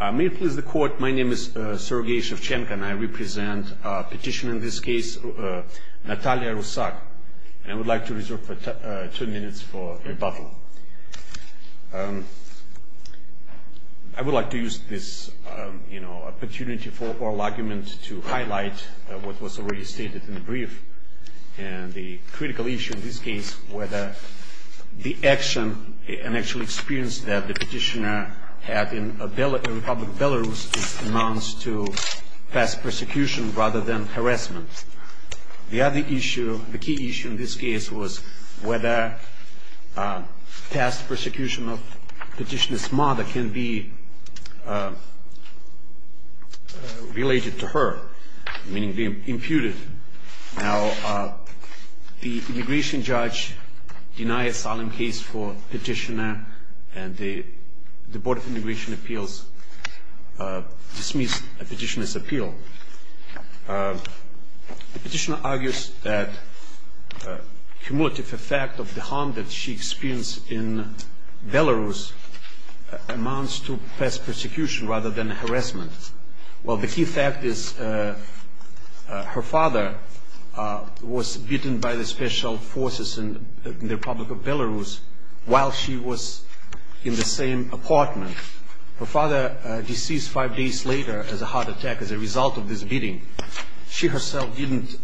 May it please the Court, my name is Sergei Shevchenko and I represent Petitioner in this case Natalia Rusak, and I would like to reserve two minutes for rebuttal. I would like to use this opportunity for oral argument to highlight what was already stated in the brief, and the critical issue in this case, whether the action and actual experience that the Petitioner had in Republic of Belarus amounts to fast persecution rather than harassment. The other issue, the key issue in this case was whether fast persecution of Petitioner's mother can be related to her, meaning be imputed. Now the immigration judge denied a solemn case for Petitioner and the Board of Immigration Appeals dismissed Petitioner's appeal. Petitioner argues that cumulative effect of the harm that she experienced in Belarus amounts to fast persecution rather than harassment. Well, the key fact is her father was beaten by the special forces in the Republic of Belarus while she was in the same apartment. Her father deceased five days later as a heart attack as a result of this beating. She herself didn't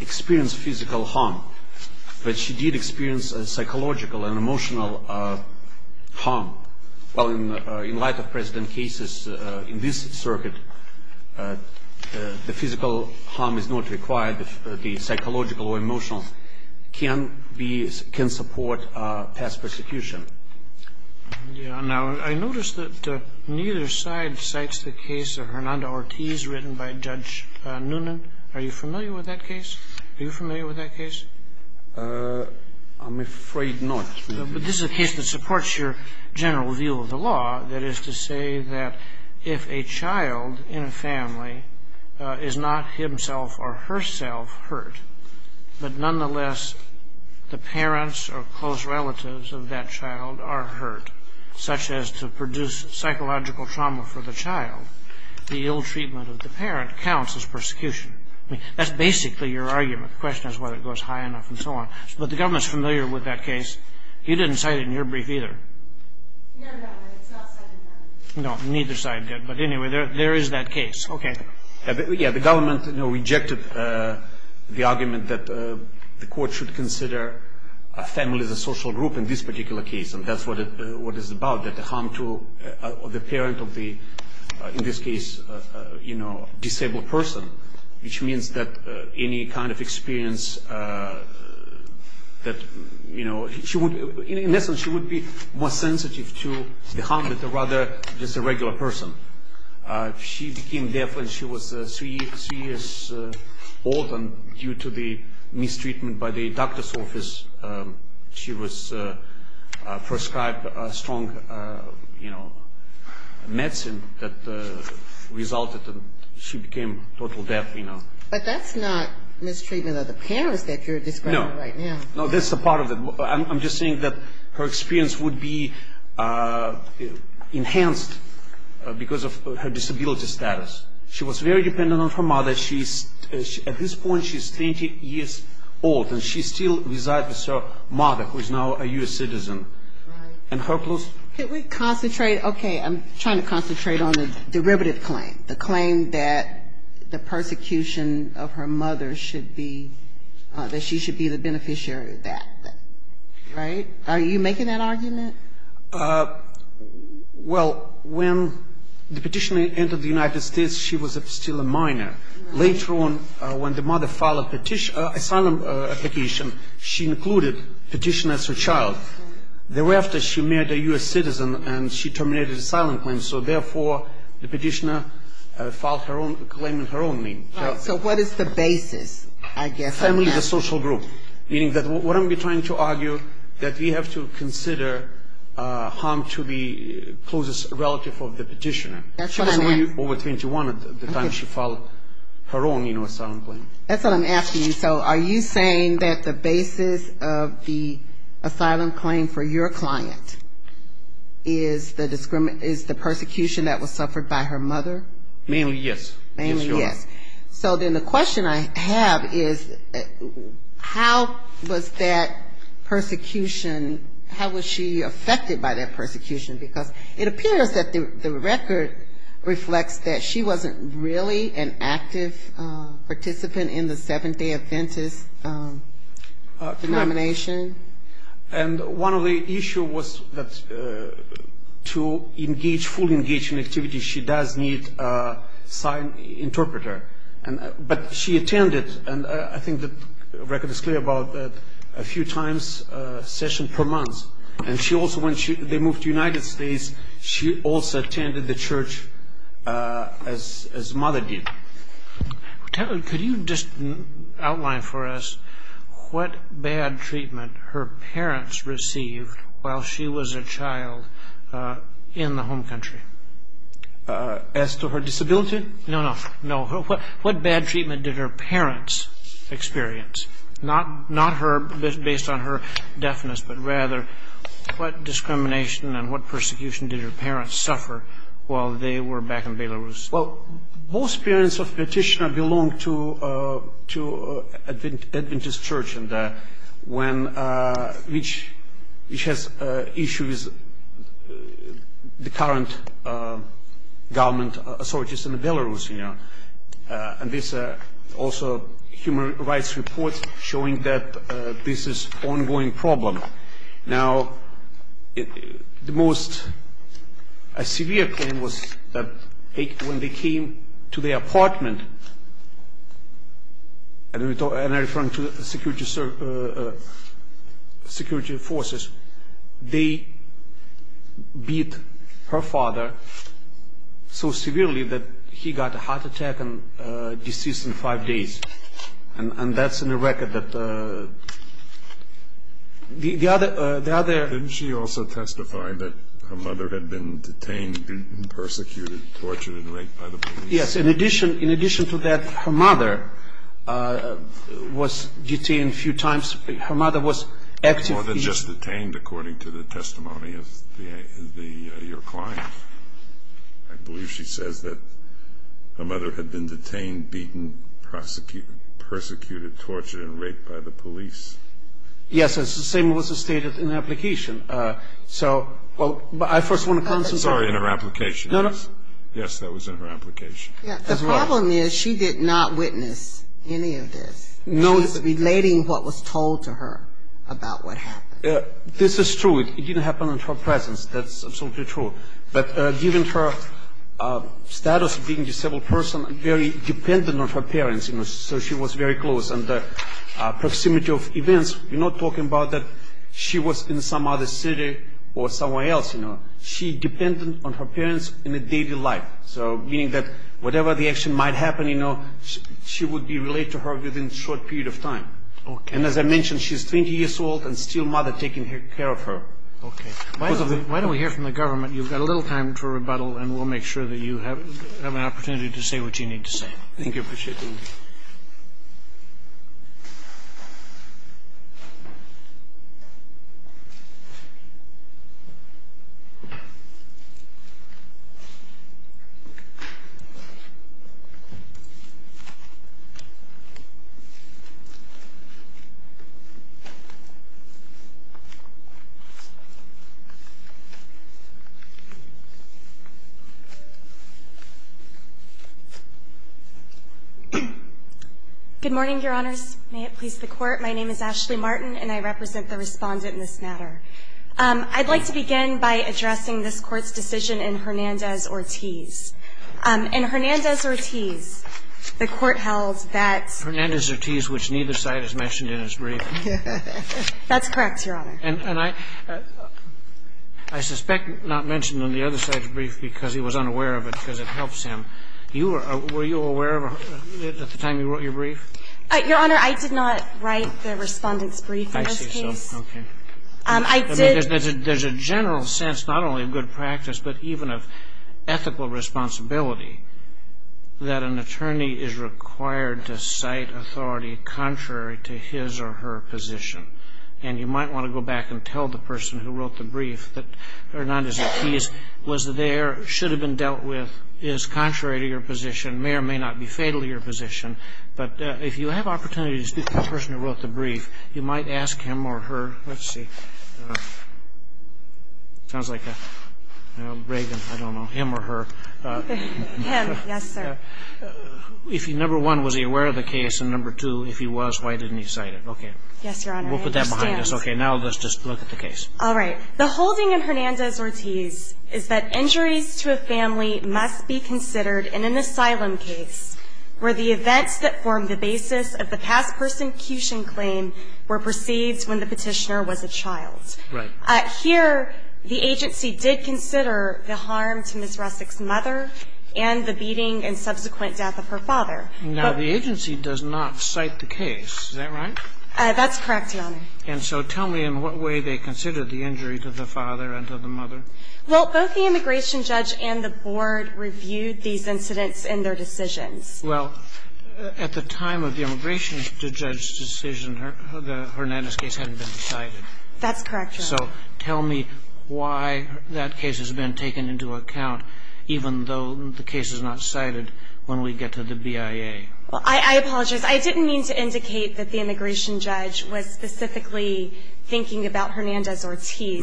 experience physical harm, but she did experience psychological and emotional harm. Well, in light of precedent cases in this circuit, the physical harm is not required. The psychological or emotional can support fast persecution. Yeah. Now, I noticed that neither side cites the case of Hernando Ortiz written by Judge Noonan. Are you familiar with that case? Are you familiar with that case? I'm afraid not. But this is a case that supports your general view of the law, that is to say that if a child in a family is not himself or herself hurt, but nonetheless the parents or close relatives of that child are hurt, such as to produce psychological trauma for the child, the ill treatment of the parent counts as persecution. I mean, that's basically your argument. The question is whether it goes high enough and so on. But the government is familiar with that case. You didn't cite it in your brief either. No, no, it's not cited in mine. No, neither side did. But anyway, there is that case. Okay. Yeah, the government rejected the argument that the court should consider a family as a social group in this particular case, and that's what it's about, that the harm to the parent of the, in this case, disabled person, which means that any kind of experience that, you know, she would, in essence, she would be more sensitive to the harm than rather just a regular person. She became deaf when she was three years old, and due to the mistreatment by the doctor's office, she was prescribed a strong, you know, medicine that resulted in she became totally deaf, you know. But that's not mistreatment of the parents that you're describing right now. No. No, that's a part of it. I'm just saying that her experience would be enhanced because of her disability status. She was very dependent on her mother. At this point, she's 30 years old, and she still resides with her mother, who is now a U.S. citizen. Right. Can we concentrate? Okay. I'm trying to concentrate on the derivative claim, the claim that the persecution of her mother should be, that she should be the beneficiary of that. Right? Are you making that argument? Well, when the petitioner entered the United States, she was still a minor. Later on, when the mother filed an asylum application, she included the petitioner as her child. Thereafter, she married a U.S. citizen, and she terminated the asylum claim. So therefore, the petitioner filed her own claim in her own name. Right. So what is the basis, I guess? The family is a social group, meaning that what I'm trying to argue, that we have to consider harm to the closest relative of the petitioner. That's what I meant. She was only over 21 at the time she filed her own, you know, asylum claim. That's what I'm asking you. So are you saying that the basis of the asylum claim for your client is the persecution that was suffered by her mother? Mainly, yes. Mainly, yes. So then the question I have is, how was that persecution, how was she affected by that persecution? Because it appears that the record reflects that she wasn't really an active participant in the Seventh Day Adventist denomination. And one of the issues was that to engage, fully engage in activities, she does need a sign interpreter. But she attended, and I think the record is clear about that, a few times a session per month. And she also, when they moved to the United States, she also attended the church as Mother did. Could you just outline for us what bad treatment her parents received while she was a child in the home country? As to her disability? No, no, no. What bad treatment did her parents experience? Not her, based on her deafness, but rather what discrimination and what persecution did her parents suffer while they were back in Belarus? Well, most parents of a petitioner belong to an Adventist church, which has issues with the current government authorities in Belarus. And there's also human rights reports showing that this is an ongoing problem. Now, the most severe thing was that when they came to their apartment, and I'm referring to security forces, they beat her father so severely that he got a heart attack and deceased in five days. And that's in the record. Didn't she also testify that her mother had been detained, beaten, persecuted, tortured, and raped by the police? Yes, in addition to that, her mother was detained a few times. More than just detained, according to the testimony of your client. I believe she says that her mother had been detained, beaten, persecuted, tortured, and raped by the police. Yes, the same was stated in the application. So, I first want to concentrate. Sorry, in her application. No, no. Yes, that was in her application. The problem is she did not witness any of this. She's relating what was told to her about what happened. This is true. It didn't happen in her presence. That's absolutely true. But given her status of being a disabled person, very dependent on her parents, you know, so she was very close. And the proximity of events, we're not talking about that she was in some other city or somewhere else, you know. She depended on her parents in a daily life. So, meaning that whatever the action might happen, you know, she would be related to her within a short period of time. Okay. And as I mentioned, she's 20 years old and still mother taking care of her. Okay. Why don't we hear from the government? You've got a little time for rebuttal, and we'll make sure that you have an opportunity to say what you need to say. Thank you. Appreciate it. Good morning, Your Honors. May it please the Court. My name is Ashley Martin, and I represent the Respondent in this matter. I'd like to begin by addressing this Court's decision in Hernandez-Ortiz. In Hernandez-Ortiz, the Court held that Hernandez-Ortiz, which neither side has mentioned in his brief. That's correct, Your Honor. And I suspect not mentioning on the other side's brief because he was unaware of it because it helps him. Were you aware of it at the time you wrote your brief? Your Honor, I did not write the Respondent's brief in this case. I see. Okay. I did. There's a general sense, not only of good practice, but even of ethical responsibility, that an attorney is required to cite authority contrary to his or her position. And you might want to go back and tell the person who wrote the brief that Hernandez-Ortiz was there, should have been dealt with, is contrary to your position, may or may not be fatal to your position. But if you have opportunity to speak to the person who wrote the brief, you might ask him or her. Let's see. Sounds like a Reagan, I don't know, him or her. Him. Yes, sir. Number one, was he aware of the case? And number two, if he was, why didn't he cite it? Okay. Yes, Your Honor. We'll put that behind us. Okay. Now let's just look at the case. All right. The holding in Hernandez-Ortiz is that injuries to a family must be considered in an asylum case where the events that form the basis of the past persecution claim were perceived when the petitioner was a child. Right. Here, the agency did consider the harm to Ms. Rusick's mother and the beating and subsequent death of her father. Now, the agency does not cite the case. Is that right? That's correct, Your Honor. And so tell me in what way they considered the injury to the father and to the mother. Well, both the immigration judge and the board reviewed these incidents in their decisions. Well, at the time of the immigration judge's decision, the Hernandez case hadn't been cited. That's correct, Your Honor. So tell me why that case has been taken into account, even though the case is not cited, when we get to the BIA. Well, I apologize. I didn't mean to indicate that the immigration judge was specifically thinking about Hernandez-Ortiz.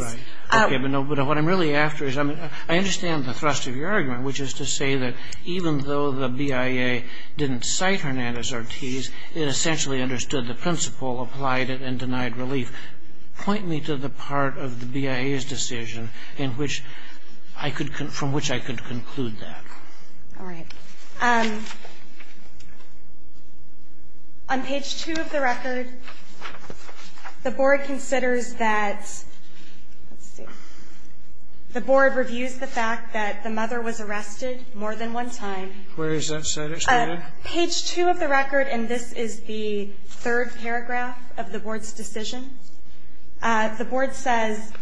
Right. Okay. But what I'm really after is I understand the thrust of your argument, which is to say that even though the BIA didn't cite Hernandez-Ortiz, it essentially understood the principle, applied it, and denied relief. Point me to the part of the BIA's decision in which I could conclude that. All right. On page 2 of the record, the board considers that, let's see, the board reviews the fact that the mother was arrested more than one time. Where is that cited? Page 2 of the record, and this is the third paragraph of the board's decision. The board says,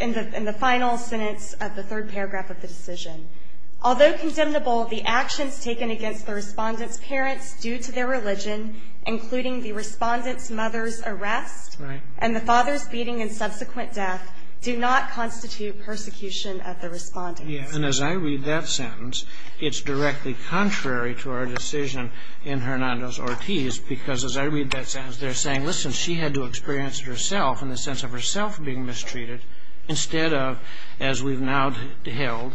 in the final sentence of the third paragraph of the decision, although condemnable, the actions taken against the Respondent's parents due to their religion, including the Respondent's mother's arrest and the father's beating and subsequent death, do not constitute persecution of the Respondent. Yes. And as I read that sentence, it's directly contrary to our decision in Hernandez-Ortiz, because as I read that sentence, they're saying, listen, she had to experience it herself in the sense of herself being mistreated, instead of, as we've now held,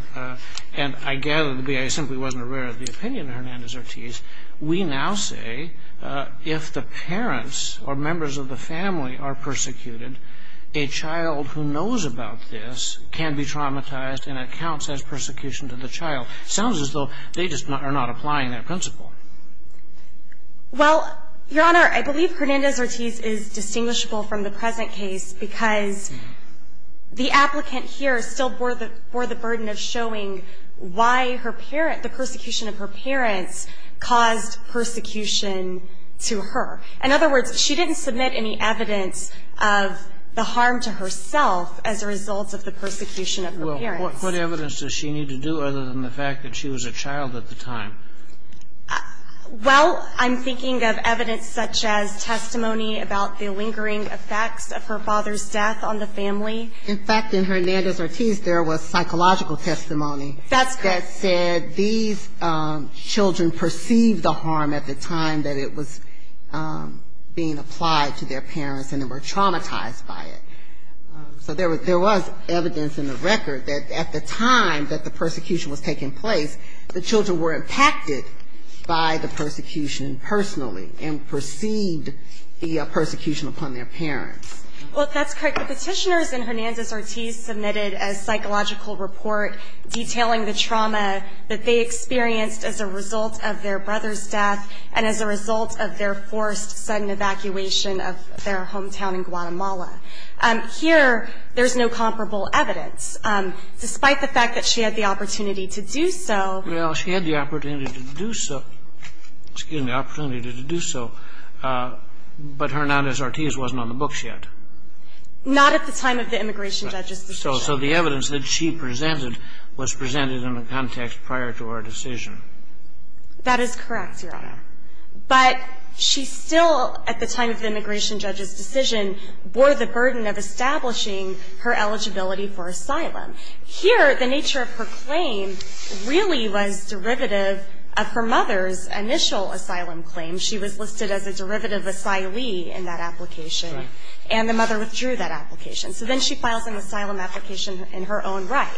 and I gather the BIA simply wasn't aware of the opinion of Hernandez-Ortiz, we now say if the parents or members of the family are persecuted, a child who knows about this can be traumatized and it counts as persecution to the child. It sounds as though they just are not applying that principle. Well, Your Honor, I believe Hernandez-Ortiz is distinguishable from the present case because the applicant here still bore the burden of showing why her parent the persecution of her parents caused persecution to her. In other words, she didn't submit any evidence of the harm to herself as a result of the persecution of her parents. Well, what evidence does she need to do other than the fact that she was a child at the time? Well, I'm thinking of evidence such as testimony about the lingering effects of her father's death on the family. In fact, in Hernandez-Ortiz, there was psychological testimony that said these children perceived the harm at the time that it was being applied to their parents and they were traumatized by it. So there was evidence in the record that at the time that the persecution was taking place, the children were impacted by the persecution personally and perceived the persecution upon their parents. Well, if that's correct, the Petitioners in Hernandez-Ortiz submitted a psychological report detailing the trauma that they experienced as a result of their brother's death and as a result of their forced sudden evacuation of their hometown in Guatemala. Here, there's no comparable evidence. Despite the fact that she had the opportunity to do so. Well, she had the opportunity to do so. Excuse me, the opportunity to do so. But Hernandez-Ortiz wasn't on the books yet. Not at the time of the immigration judge's decision. So the evidence that she presented was presented in the context prior to her decision. That is correct, Your Honor. But she still, at the time of the immigration judge's decision, bore the burden of establishing her eligibility for asylum. Here, the nature of her claim really was derivative of her mother's initial asylum claim. She was listed as a derivative asylee in that application. Right. And the mother withdrew that application. So then she files an asylum application in her own right.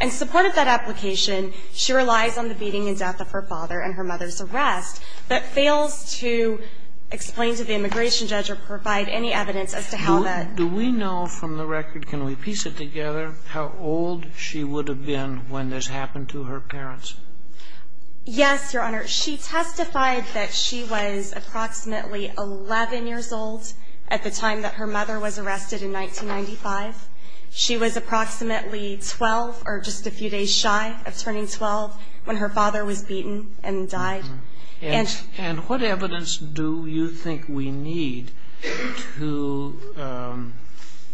In support of that application, she relies on the beating and death of her father and her mother's arrest, but fails to explain to the immigration judge or provide any evidence as to how that. Do we know from the record, can we piece it together, how old she would have been when this happened to her parents? Yes, Your Honor. She testified that she was approximately 11 years old at the time that her mother was arrested in 1995. She was approximately 12, or just a few days shy of turning 12, when her father was beaten and died. And what evidence do you think we need to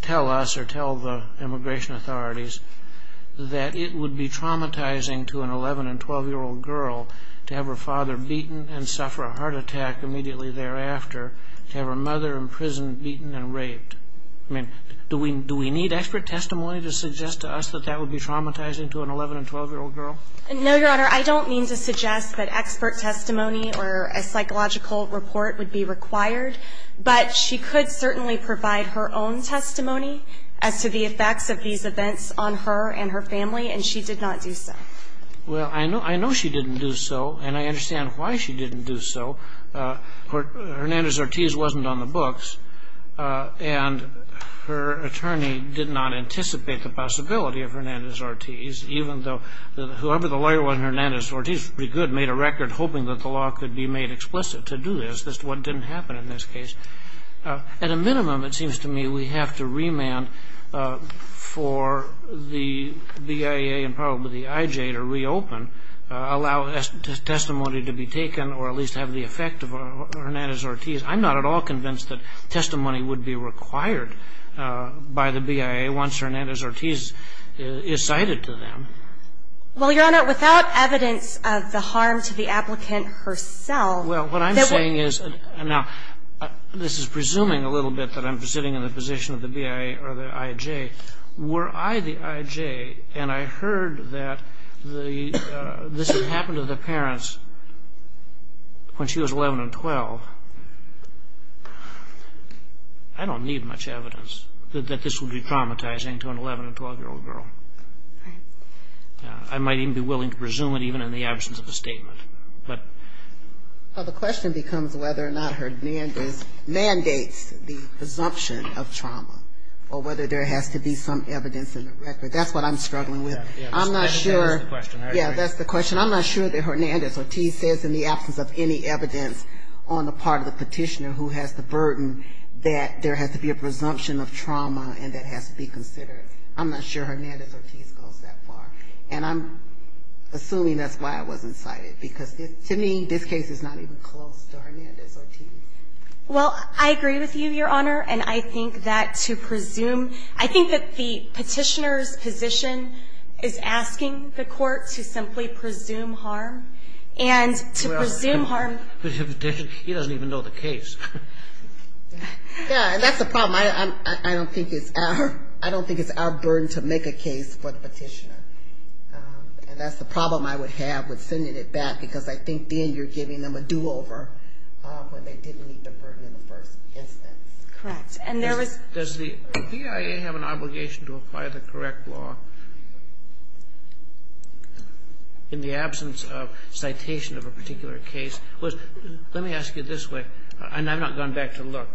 tell us or tell the immigration authorities that it would be traumatizing to an 11- and 12-year-old girl to have her father beaten and suffer a heart attack immediately thereafter, to have her mother in prison beaten and raped? I mean, do we need expert testimony to suggest to us that that would be traumatizing to an 11- and 12-year-old girl? No, Your Honor. I don't mean to suggest that expert testimony or a psychological report would be required, but she could certainly provide her own testimony as to the effects of these events on her and her family, and she did not do so. Well, I know she didn't do so, and I understand why she didn't do so. Hernandez-Ortiz wasn't on the books, and her attorney did not anticipate the possibility of Hernandez-Ortiz, even though whoever the lawyer was, Hernandez-Ortiz, pretty good, made a record hoping that the law could be made explicit to do this. That's just what didn't happen in this case. At a minimum, it seems to me we have to remand for the BIA and probably the IJ to reopen, allow testimony to be taken or at least have the effect of Hernandez-Ortiz. I'm not at all convinced that testimony would be required by the BIA once Hernandez-Ortiz is cited to them. Well, Your Honor, without evidence of the harm to the applicant herself, that would be the case. I'm saying is, now, this is presuming a little bit that I'm sitting in the position of the BIA or the IJ. Were I the IJ and I heard that this had happened to the parents when she was 11 and 12, I don't need much evidence that this would be traumatizing to an 11- and 12-year-old girl. I might even be willing to presume it even in the absence of a statement. Well, the question becomes whether or not Hernandez mandates the presumption of trauma or whether there has to be some evidence in the record. That's what I'm struggling with. I'm not sure. Yeah, that's the question. Yeah, that's the question. I'm not sure that Hernandez-Ortiz says in the absence of any evidence on the part of the petitioner who has the burden that there has to be a presumption of trauma and that has to be considered. I'm not sure Hernandez-Ortiz goes that far. And I'm assuming that's why I wasn't cited because, to me, this case is not even close to Hernandez-Ortiz. Well, I agree with you, Your Honor, and I think that to presume, I think that the petitioner's position is asking the court to simply presume harm and to presume harm. But he doesn't even know the case. Yeah, and that's the problem. I don't think it's our burden to make a case for the petitioner. And that's the problem I would have with sending it back because I think then you're giving them a do-over when they didn't meet the burden in the first instance. Correct. Does the PIA have an obligation to apply the correct law in the absence of citation of a particular case? Let me ask you this way, and I've not gone back to look.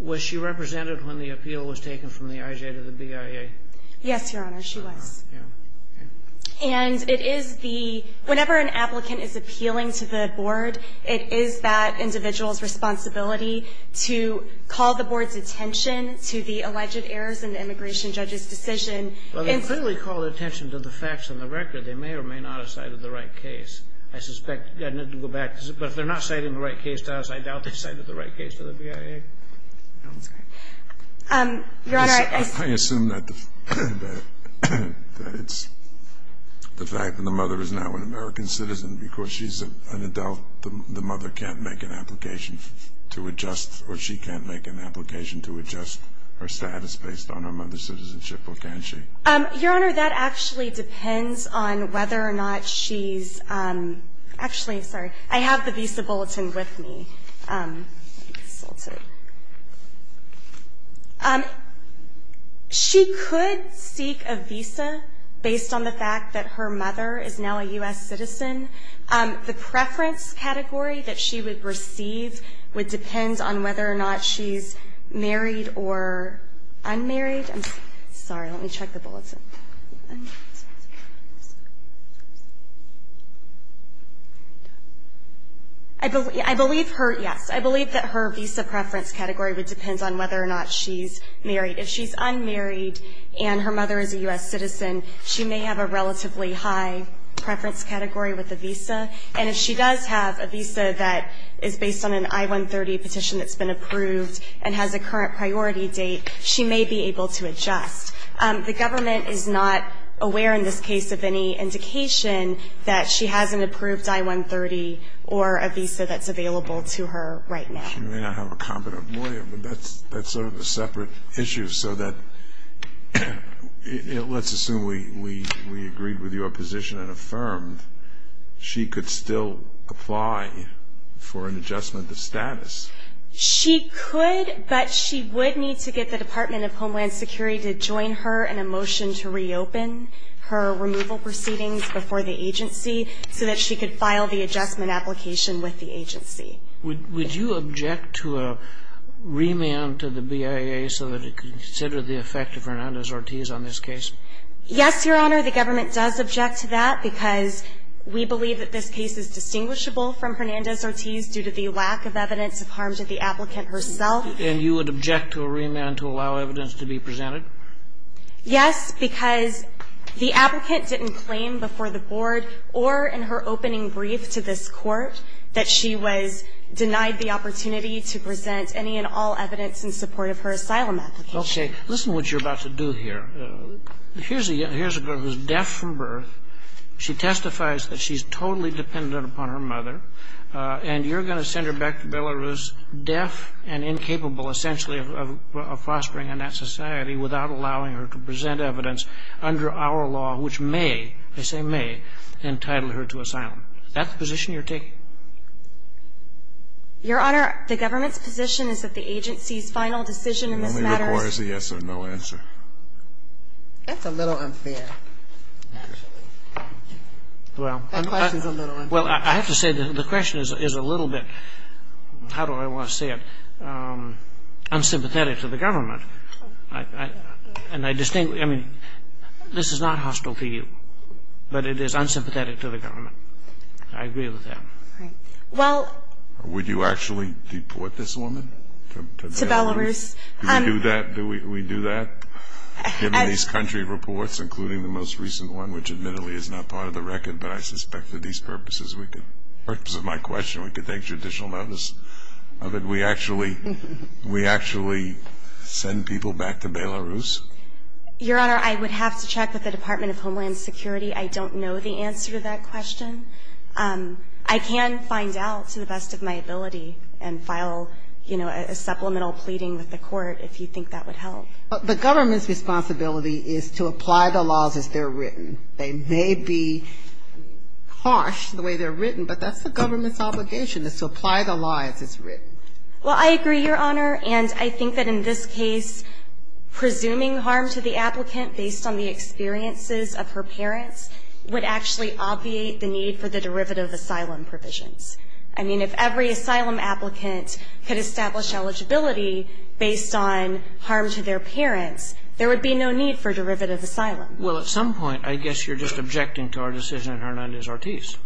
Was she represented when the appeal was taken from the IJ to the PIA? Yes, Your Honor, she was. And it is the, whenever an applicant is appealing to the board, it is that individual's responsibility to call the board's attention to the alleged errors in the immigration judge's decision. Well, they clearly called attention to the facts and the record. They may or may not have cited the right case. I suspect, I'd need to go back. But if they're not citing the right case to us, I doubt they cited the right case to the PIA. I'm sorry. Your Honor, I assume that it's the fact that the mother is not an American citizen because she's an adult. The mother can't make an application to adjust, or she can't make an application to adjust her status based on her mother's citizenship, or can she? Your Honor, that actually depends on whether or not she's, actually, sorry, I have the visa bulletin with me. She could seek a visa based on the fact that her mother is now a U.S. citizen. The preference category that she would receive would depend on whether or not she's married or unmarried. I'm sorry. Let me check the bulletin. I believe her, yes, I believe that her visa preference category would depend on whether or not she's married. If she's unmarried and her mother is a U.S. citizen, she may have a relatively high preference category with a visa. And if she does have a visa that is based on an I-130 petition that's been approved and has a current priority date, she may be able to adjust. The government is not aware in this case of any indication that she has an approved I-130 or a visa that's available to her right now. She may not have a competent lawyer, but that's sort of a separate issue. So let's assume we agreed with your position and affirmed she could still apply for an adjustment of status. She could, but she would need to get the Department of Homeland Security to join her in a motion to reopen her removal proceedings before the agency so that she could file the adjustment application with the agency. Would you object to a remand to the BIA so that it could consider the effect of Hernandez-Ortiz on this case? Yes, Your Honor. The government does object to that because we believe that this case is distinguishable from Hernandez-Ortiz due to the lack of evidence of harm to the applicant herself. And you would object to a remand to allow evidence to be presented? Yes, because the applicant didn't claim before the board or in her opening brief to this Court that she was denied the opportunity to present any and all evidence in support of her asylum application. Okay. Listen to what you're about to do here. Here's a girl who's deaf from birth. She testifies that she's totally dependent upon her mother. And you're going to send her back to Belarus deaf and incapable, essentially, of fostering in that society without allowing her to present evidence under our law, which may, I say may, entitle her to asylum. Is that the position you're taking? Your Honor, the government's position is that the agency's final decision in this matter is It only requires a yes or no answer. That's a little unfair, actually. That question's a little unfair. Well, I have to say the question is a little bit, how do I want to say it, unsympathetic to the government. And I distinctly, I mean, this is not hostile to you, but it is unsympathetic to the government. I agree with that. Well. Would you actually deport this woman to Belarus? To Belarus. Do we do that? Do we do that? Given these country reports, including the most recent one, which admittedly is not part of the record, but I suspect for these purposes we could, for the purpose of my question, we could take judicial notice of it. We actually send people back to Belarus? Your Honor, I would have to check with the Department of Homeland Security. I don't know the answer to that question. I can find out to the best of my ability and file a supplemental pleading with the court if you think that would help. The government's responsibility is to apply the laws as they're written. They may be harsh the way they're written, but that's the government's obligation is to apply the law as it's written. Well, I agree, Your Honor, and I think that in this case presuming harm to the applicant based on the experiences of her parents would actually obviate the need for the derivative asylum provisions. I mean, if every asylum applicant could establish eligibility based on harm to their parents, there would be no need for derivative asylum. Well, at some point I guess you're just objecting to our decision in Hernandez-Ortiz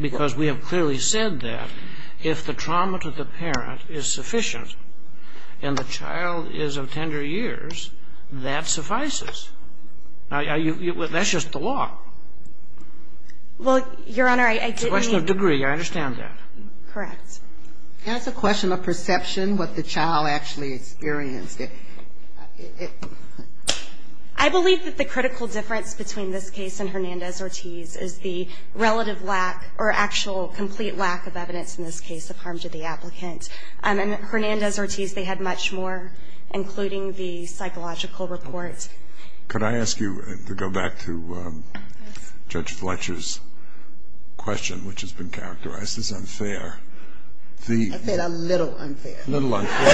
because we have clearly said that if the trauma to the parent is sufficient and the child is of tender years, that suffices. That's just the law. Well, Your Honor, I didn't mean to ---- It's a question of degree. I understand that. Correct. It's a question of perception, what the child actually experienced. I believe that the critical difference between this case and Hernandez-Ortiz is the relative lack or actual complete lack of evidence in this case of harm to the applicant. In Hernandez-Ortiz, they had much more, including the psychological report. Could I ask you to go back to Judge Fletcher's question, which has been characterized as unfair? I said a little unfair. A little unfair.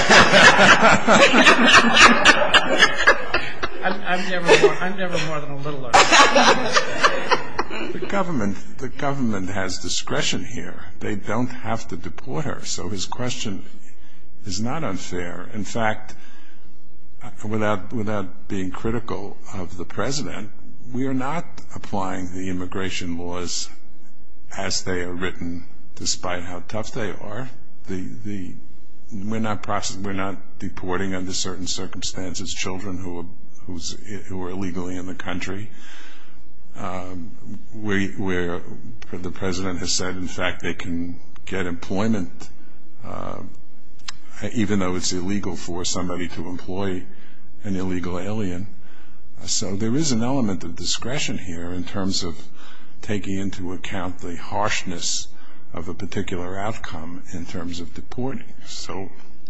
I'm never more than a little unfair. The government has discretion here. They don't have to deport her, so his question is not unfair. In fact, without being critical of the President, we are not applying the immigration laws as they are written, despite how tough they are. We're not deporting under certain circumstances children who are illegally in the country. The President has said, in fact, they can get employment, even though it's illegal for somebody to employ an illegal alien. So there is an element of discretion here in terms of taking into account the harshness of a particular outcome in terms of deporting.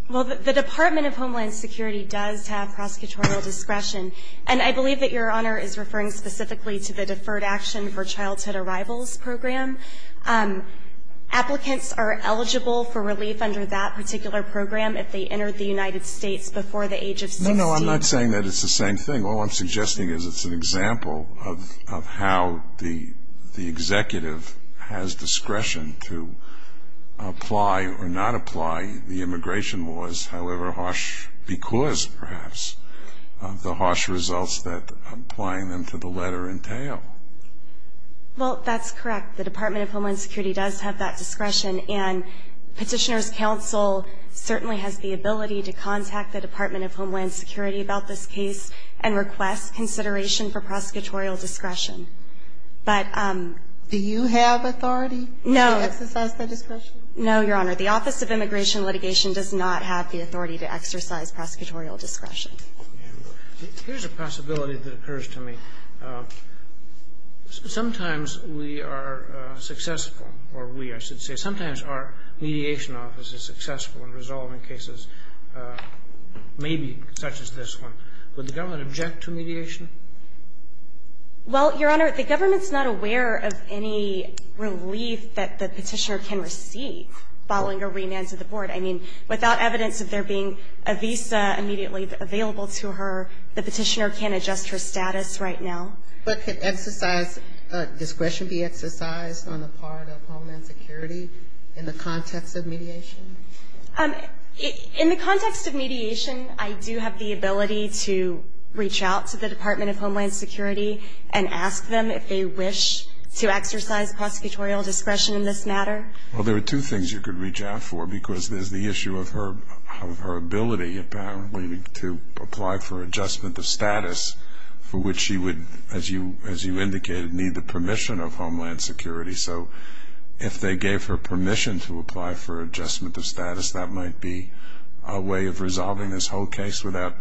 Well, the Department of Homeland Security does have prosecutorial discretion, and I believe that Your Honor is referring specifically to the Deferred Action for Childhood Arrivals Program. Applicants are eligible for relief under that particular program if they entered the United States before the age of 16. No, no, I'm not saying that it's the same thing. All I'm suggesting is it's an example of how the executive has discretion to apply or not apply the immigration laws, however harsh, because, perhaps, of the harsh results that applying them to the letter entail. Well, that's correct. The Department of Homeland Security does have that discretion, and Petitioner's Counsel certainly has the ability to contact the Department of Homeland Security about this case and request consideration for prosecutorial discretion. But do you have authority to exercise that discretion? No, Your Honor. The Office of Immigration Litigation does not have the authority to exercise prosecutorial discretion. Here's a possibility that occurs to me. Sometimes we are successful, or we, I should say, sometimes our mediation office is successful in resolving cases maybe such as this one. Would the government object to mediation? Well, Your Honor, the government's not aware of any relief that the petitioner can receive following a remand to the board. I mean, without evidence of there being a visa immediately available to her, the petitioner can't adjust her status right now. But can discretion be exercised on the part of Homeland Security in the context of mediation? In the context of mediation, I do have the ability to reach out to the Department of Homeland Security and ask them if they wish to exercise prosecutorial discretion in this matter. Well, there are two things you could reach out for, because there's the issue of her ability apparently to apply for adjustment of status for which she would, as you indicated, need the permission of Homeland Security. So if they gave her permission to apply for adjustment of status, that might be a way of resolving this whole case without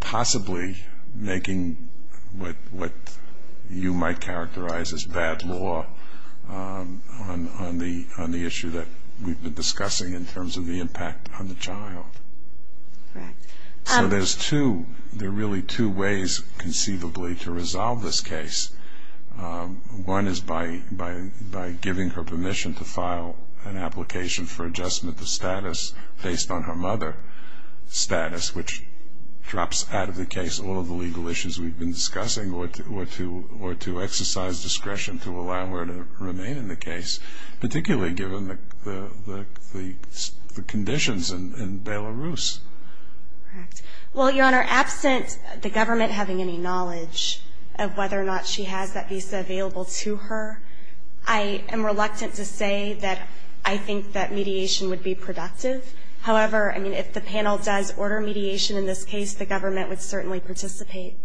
possibly making what you might characterize as bad law on the issue that we've been discussing in terms of the impact on the child. Right. So there's two, there are really two ways conceivably to resolve this case. One is by giving her permission to file an application for adjustment of status based on her mother's status, which drops out of the case all of the legal issues we've been discussing or to exercise discretion to allow her to remain in the case, particularly given the conditions in Belarus. Correct. Well, Your Honor, absent the government having any knowledge of whether or not she has that visa available to her, I am reluctant to say that I think that mediation would be productive. However, I mean, if the panel does order mediation in this case, the government would certainly participate.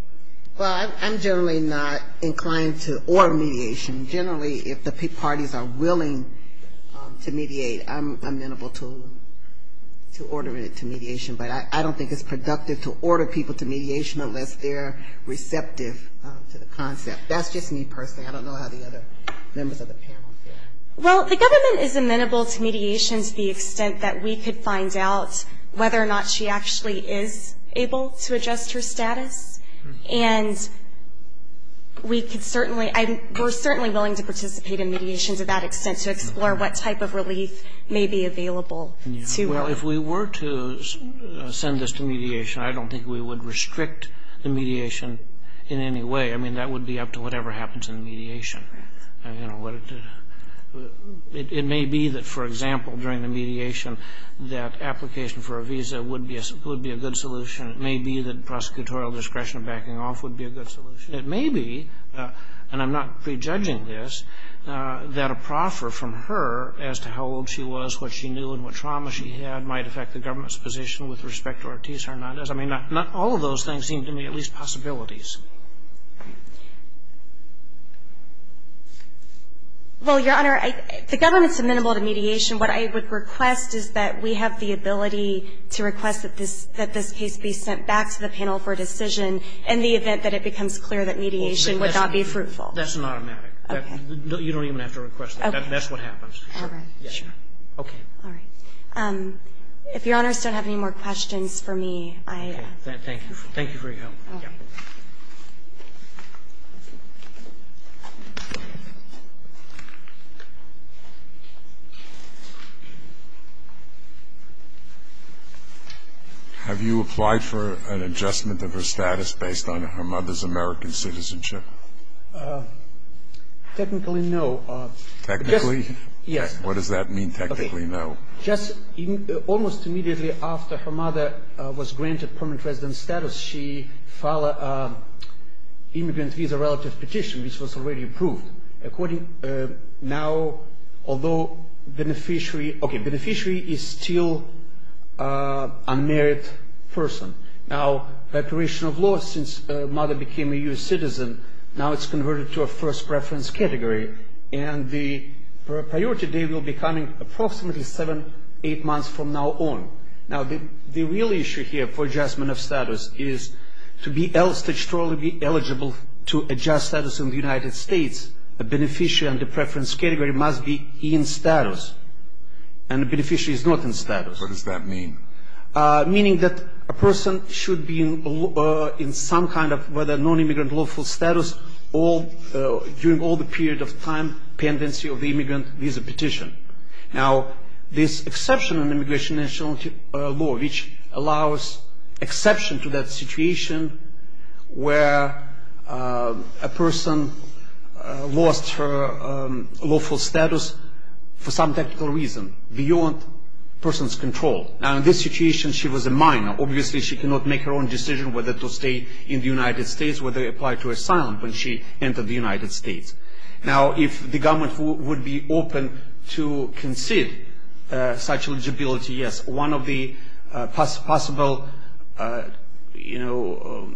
Well, I'm generally not inclined to order mediation. Generally, if the parties are willing to mediate, I'm amenable to ordering it to mediation. But I don't think it's productive to order people to mediation unless they're receptive to the concept. That's just me personally. I don't know how the other members of the panel feel. Well, the government is amenable to mediation to the extent that we could find out whether or not she actually is able to adjust her status. And we could certainly, we're certainly willing to participate in mediation to that extent to explore what type of relief may be available to her. Well, if we were to send this to mediation, I don't think we would restrict the mediation in any way. I mean, that would be up to whatever happens in the mediation. You know, it may be that, for example, during the mediation, that application for a visa would be a good solution. It may be that prosecutorial discretion and backing off would be a good solution. It may be, and I'm not prejudging this, that a proffer from her as to how old she was, what she knew, and what trauma she had might affect the government's position with respect to Ortiz-Hernandez. I mean, not all of those things seem to me at least possibilities. Well, Your Honor, the government's amenable to mediation. What I would request is that we have the ability to request that this case be sent back to the panel for a decision in the event that it becomes clear that mediation would not be fruitful. That's an automatic. Okay. You don't even have to request that. That's what happens. All right. Sure. Okay. All right. If Your Honors don't have any more questions for me, I... Thank you. Thank you for your help. Okay. Have you applied for an adjustment of her status based on her mother's American citizenship? Technically, no. Technically? Yes. What does that mean, technically no? Just almost immediately after her mother was granted permanent resident status, she filed an immigrant visa relative petition, which was already approved. According... Now, although beneficiary... Okay, beneficiary is still a married person. Now, by operation of law, since mother became a U.S. citizen, now it's converted to a first preference category. And the priority date will be coming approximately seven, eight months from now on. Now, the real issue here for adjustment of status is to be eligible to adjust status in the United States, the beneficiary and the preference category must be in status. And the beneficiary is not in status. What does that mean? Meaning that a person should be in some kind of whether nonimmigrant lawful status during all the period of time pendency of the immigrant visa petition. Now, this exception in immigration national law, which allows exception to that situation where a person lost her lawful status for some technical reason beyond person's control. Now, in this situation, she was a minor. Obviously, she could not make her own decision whether to stay in the United States, whether to apply to asylum when she entered the United States. Now, if the government would be open to concede such eligibility, yes, one of the possible, you know,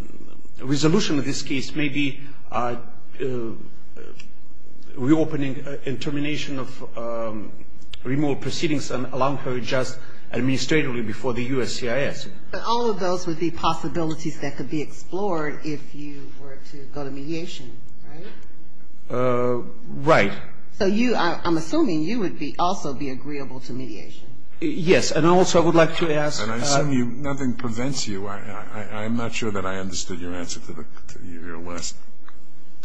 resolution of this case may be reopening and termination of removal proceedings and allowing her to adjust administratively before the U.S.CIS. All of those would be possibilities that could be explored if you were to go to mediation, right? Right. So you, I'm assuming you would also be agreeable to mediation. Yes. And I also would like to ask. And I assume nothing prevents you. I'm not sure that I understood your answer to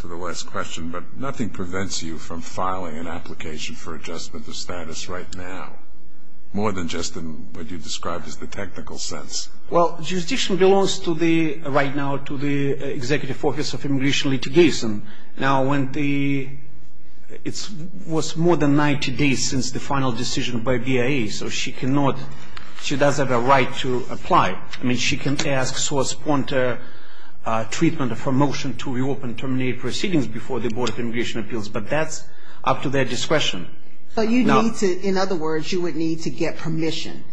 the last question, but nothing prevents you from filing an application for adjustment of status right now, more than just in what you described as the technical sense. Well, jurisdiction belongs to the, right now, to the Executive Office of Immigration Litigation. Now, when the, it was more than 90 days since the final decision by BIA, so she cannot, she doesn't have a right to apply. I mean, she can ask source pointer treatment of her motion to reopen and terminate proceedings before the Board of Immigration Appeals, but that's up to their discretion. So you need to, in other words, you would need to get permission.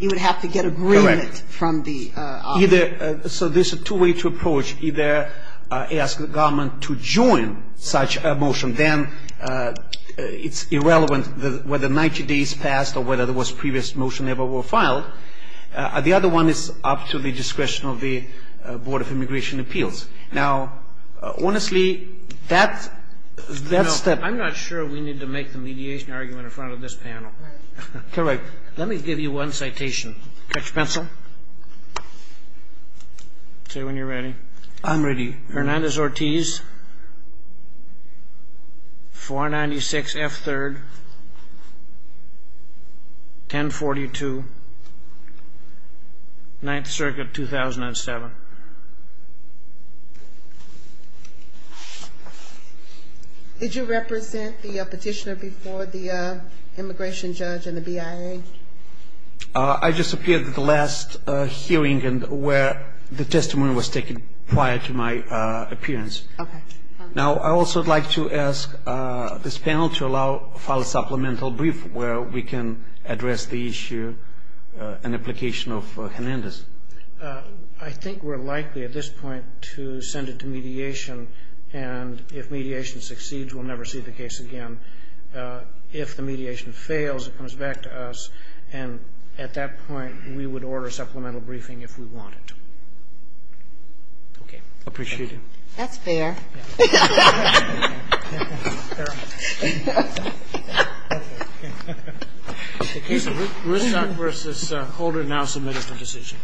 You would have to get agreement from the office. Correct. Either, so there's two ways to approach. Either ask the government to join such a motion. Then it's irrelevant whether 90 days passed or whether there was previous motion ever were filed. The other one is up to the discretion of the Board of Immigration Appeals. Now, honestly, that's the step. I'm sure we need to make the mediation argument in front of this panel. Correct. Let me give you one citation. Catch a pencil. Say when you're ready. I'm ready. Hernandez-Ortiz, 496 F. 3rd, 1042, 9th Circuit, 2007. Did you represent the petitioner before the immigration judge and the BIA? I just appeared at the last hearing where the testimony was taken prior to my appearance. Okay. Now, I also would like to ask this panel to allow for a supplemental brief where we can address the issue and application of Hernandez. I think we're likely at this point to send it to mediation. And if mediation succeeds, we'll never see the case again. If the mediation fails, it comes back to us. And at that point, we would order supplemental briefing if we wanted to. Okay. I appreciate it. That's fair. Okay. Ruth Stock versus Holder now submitted for decision.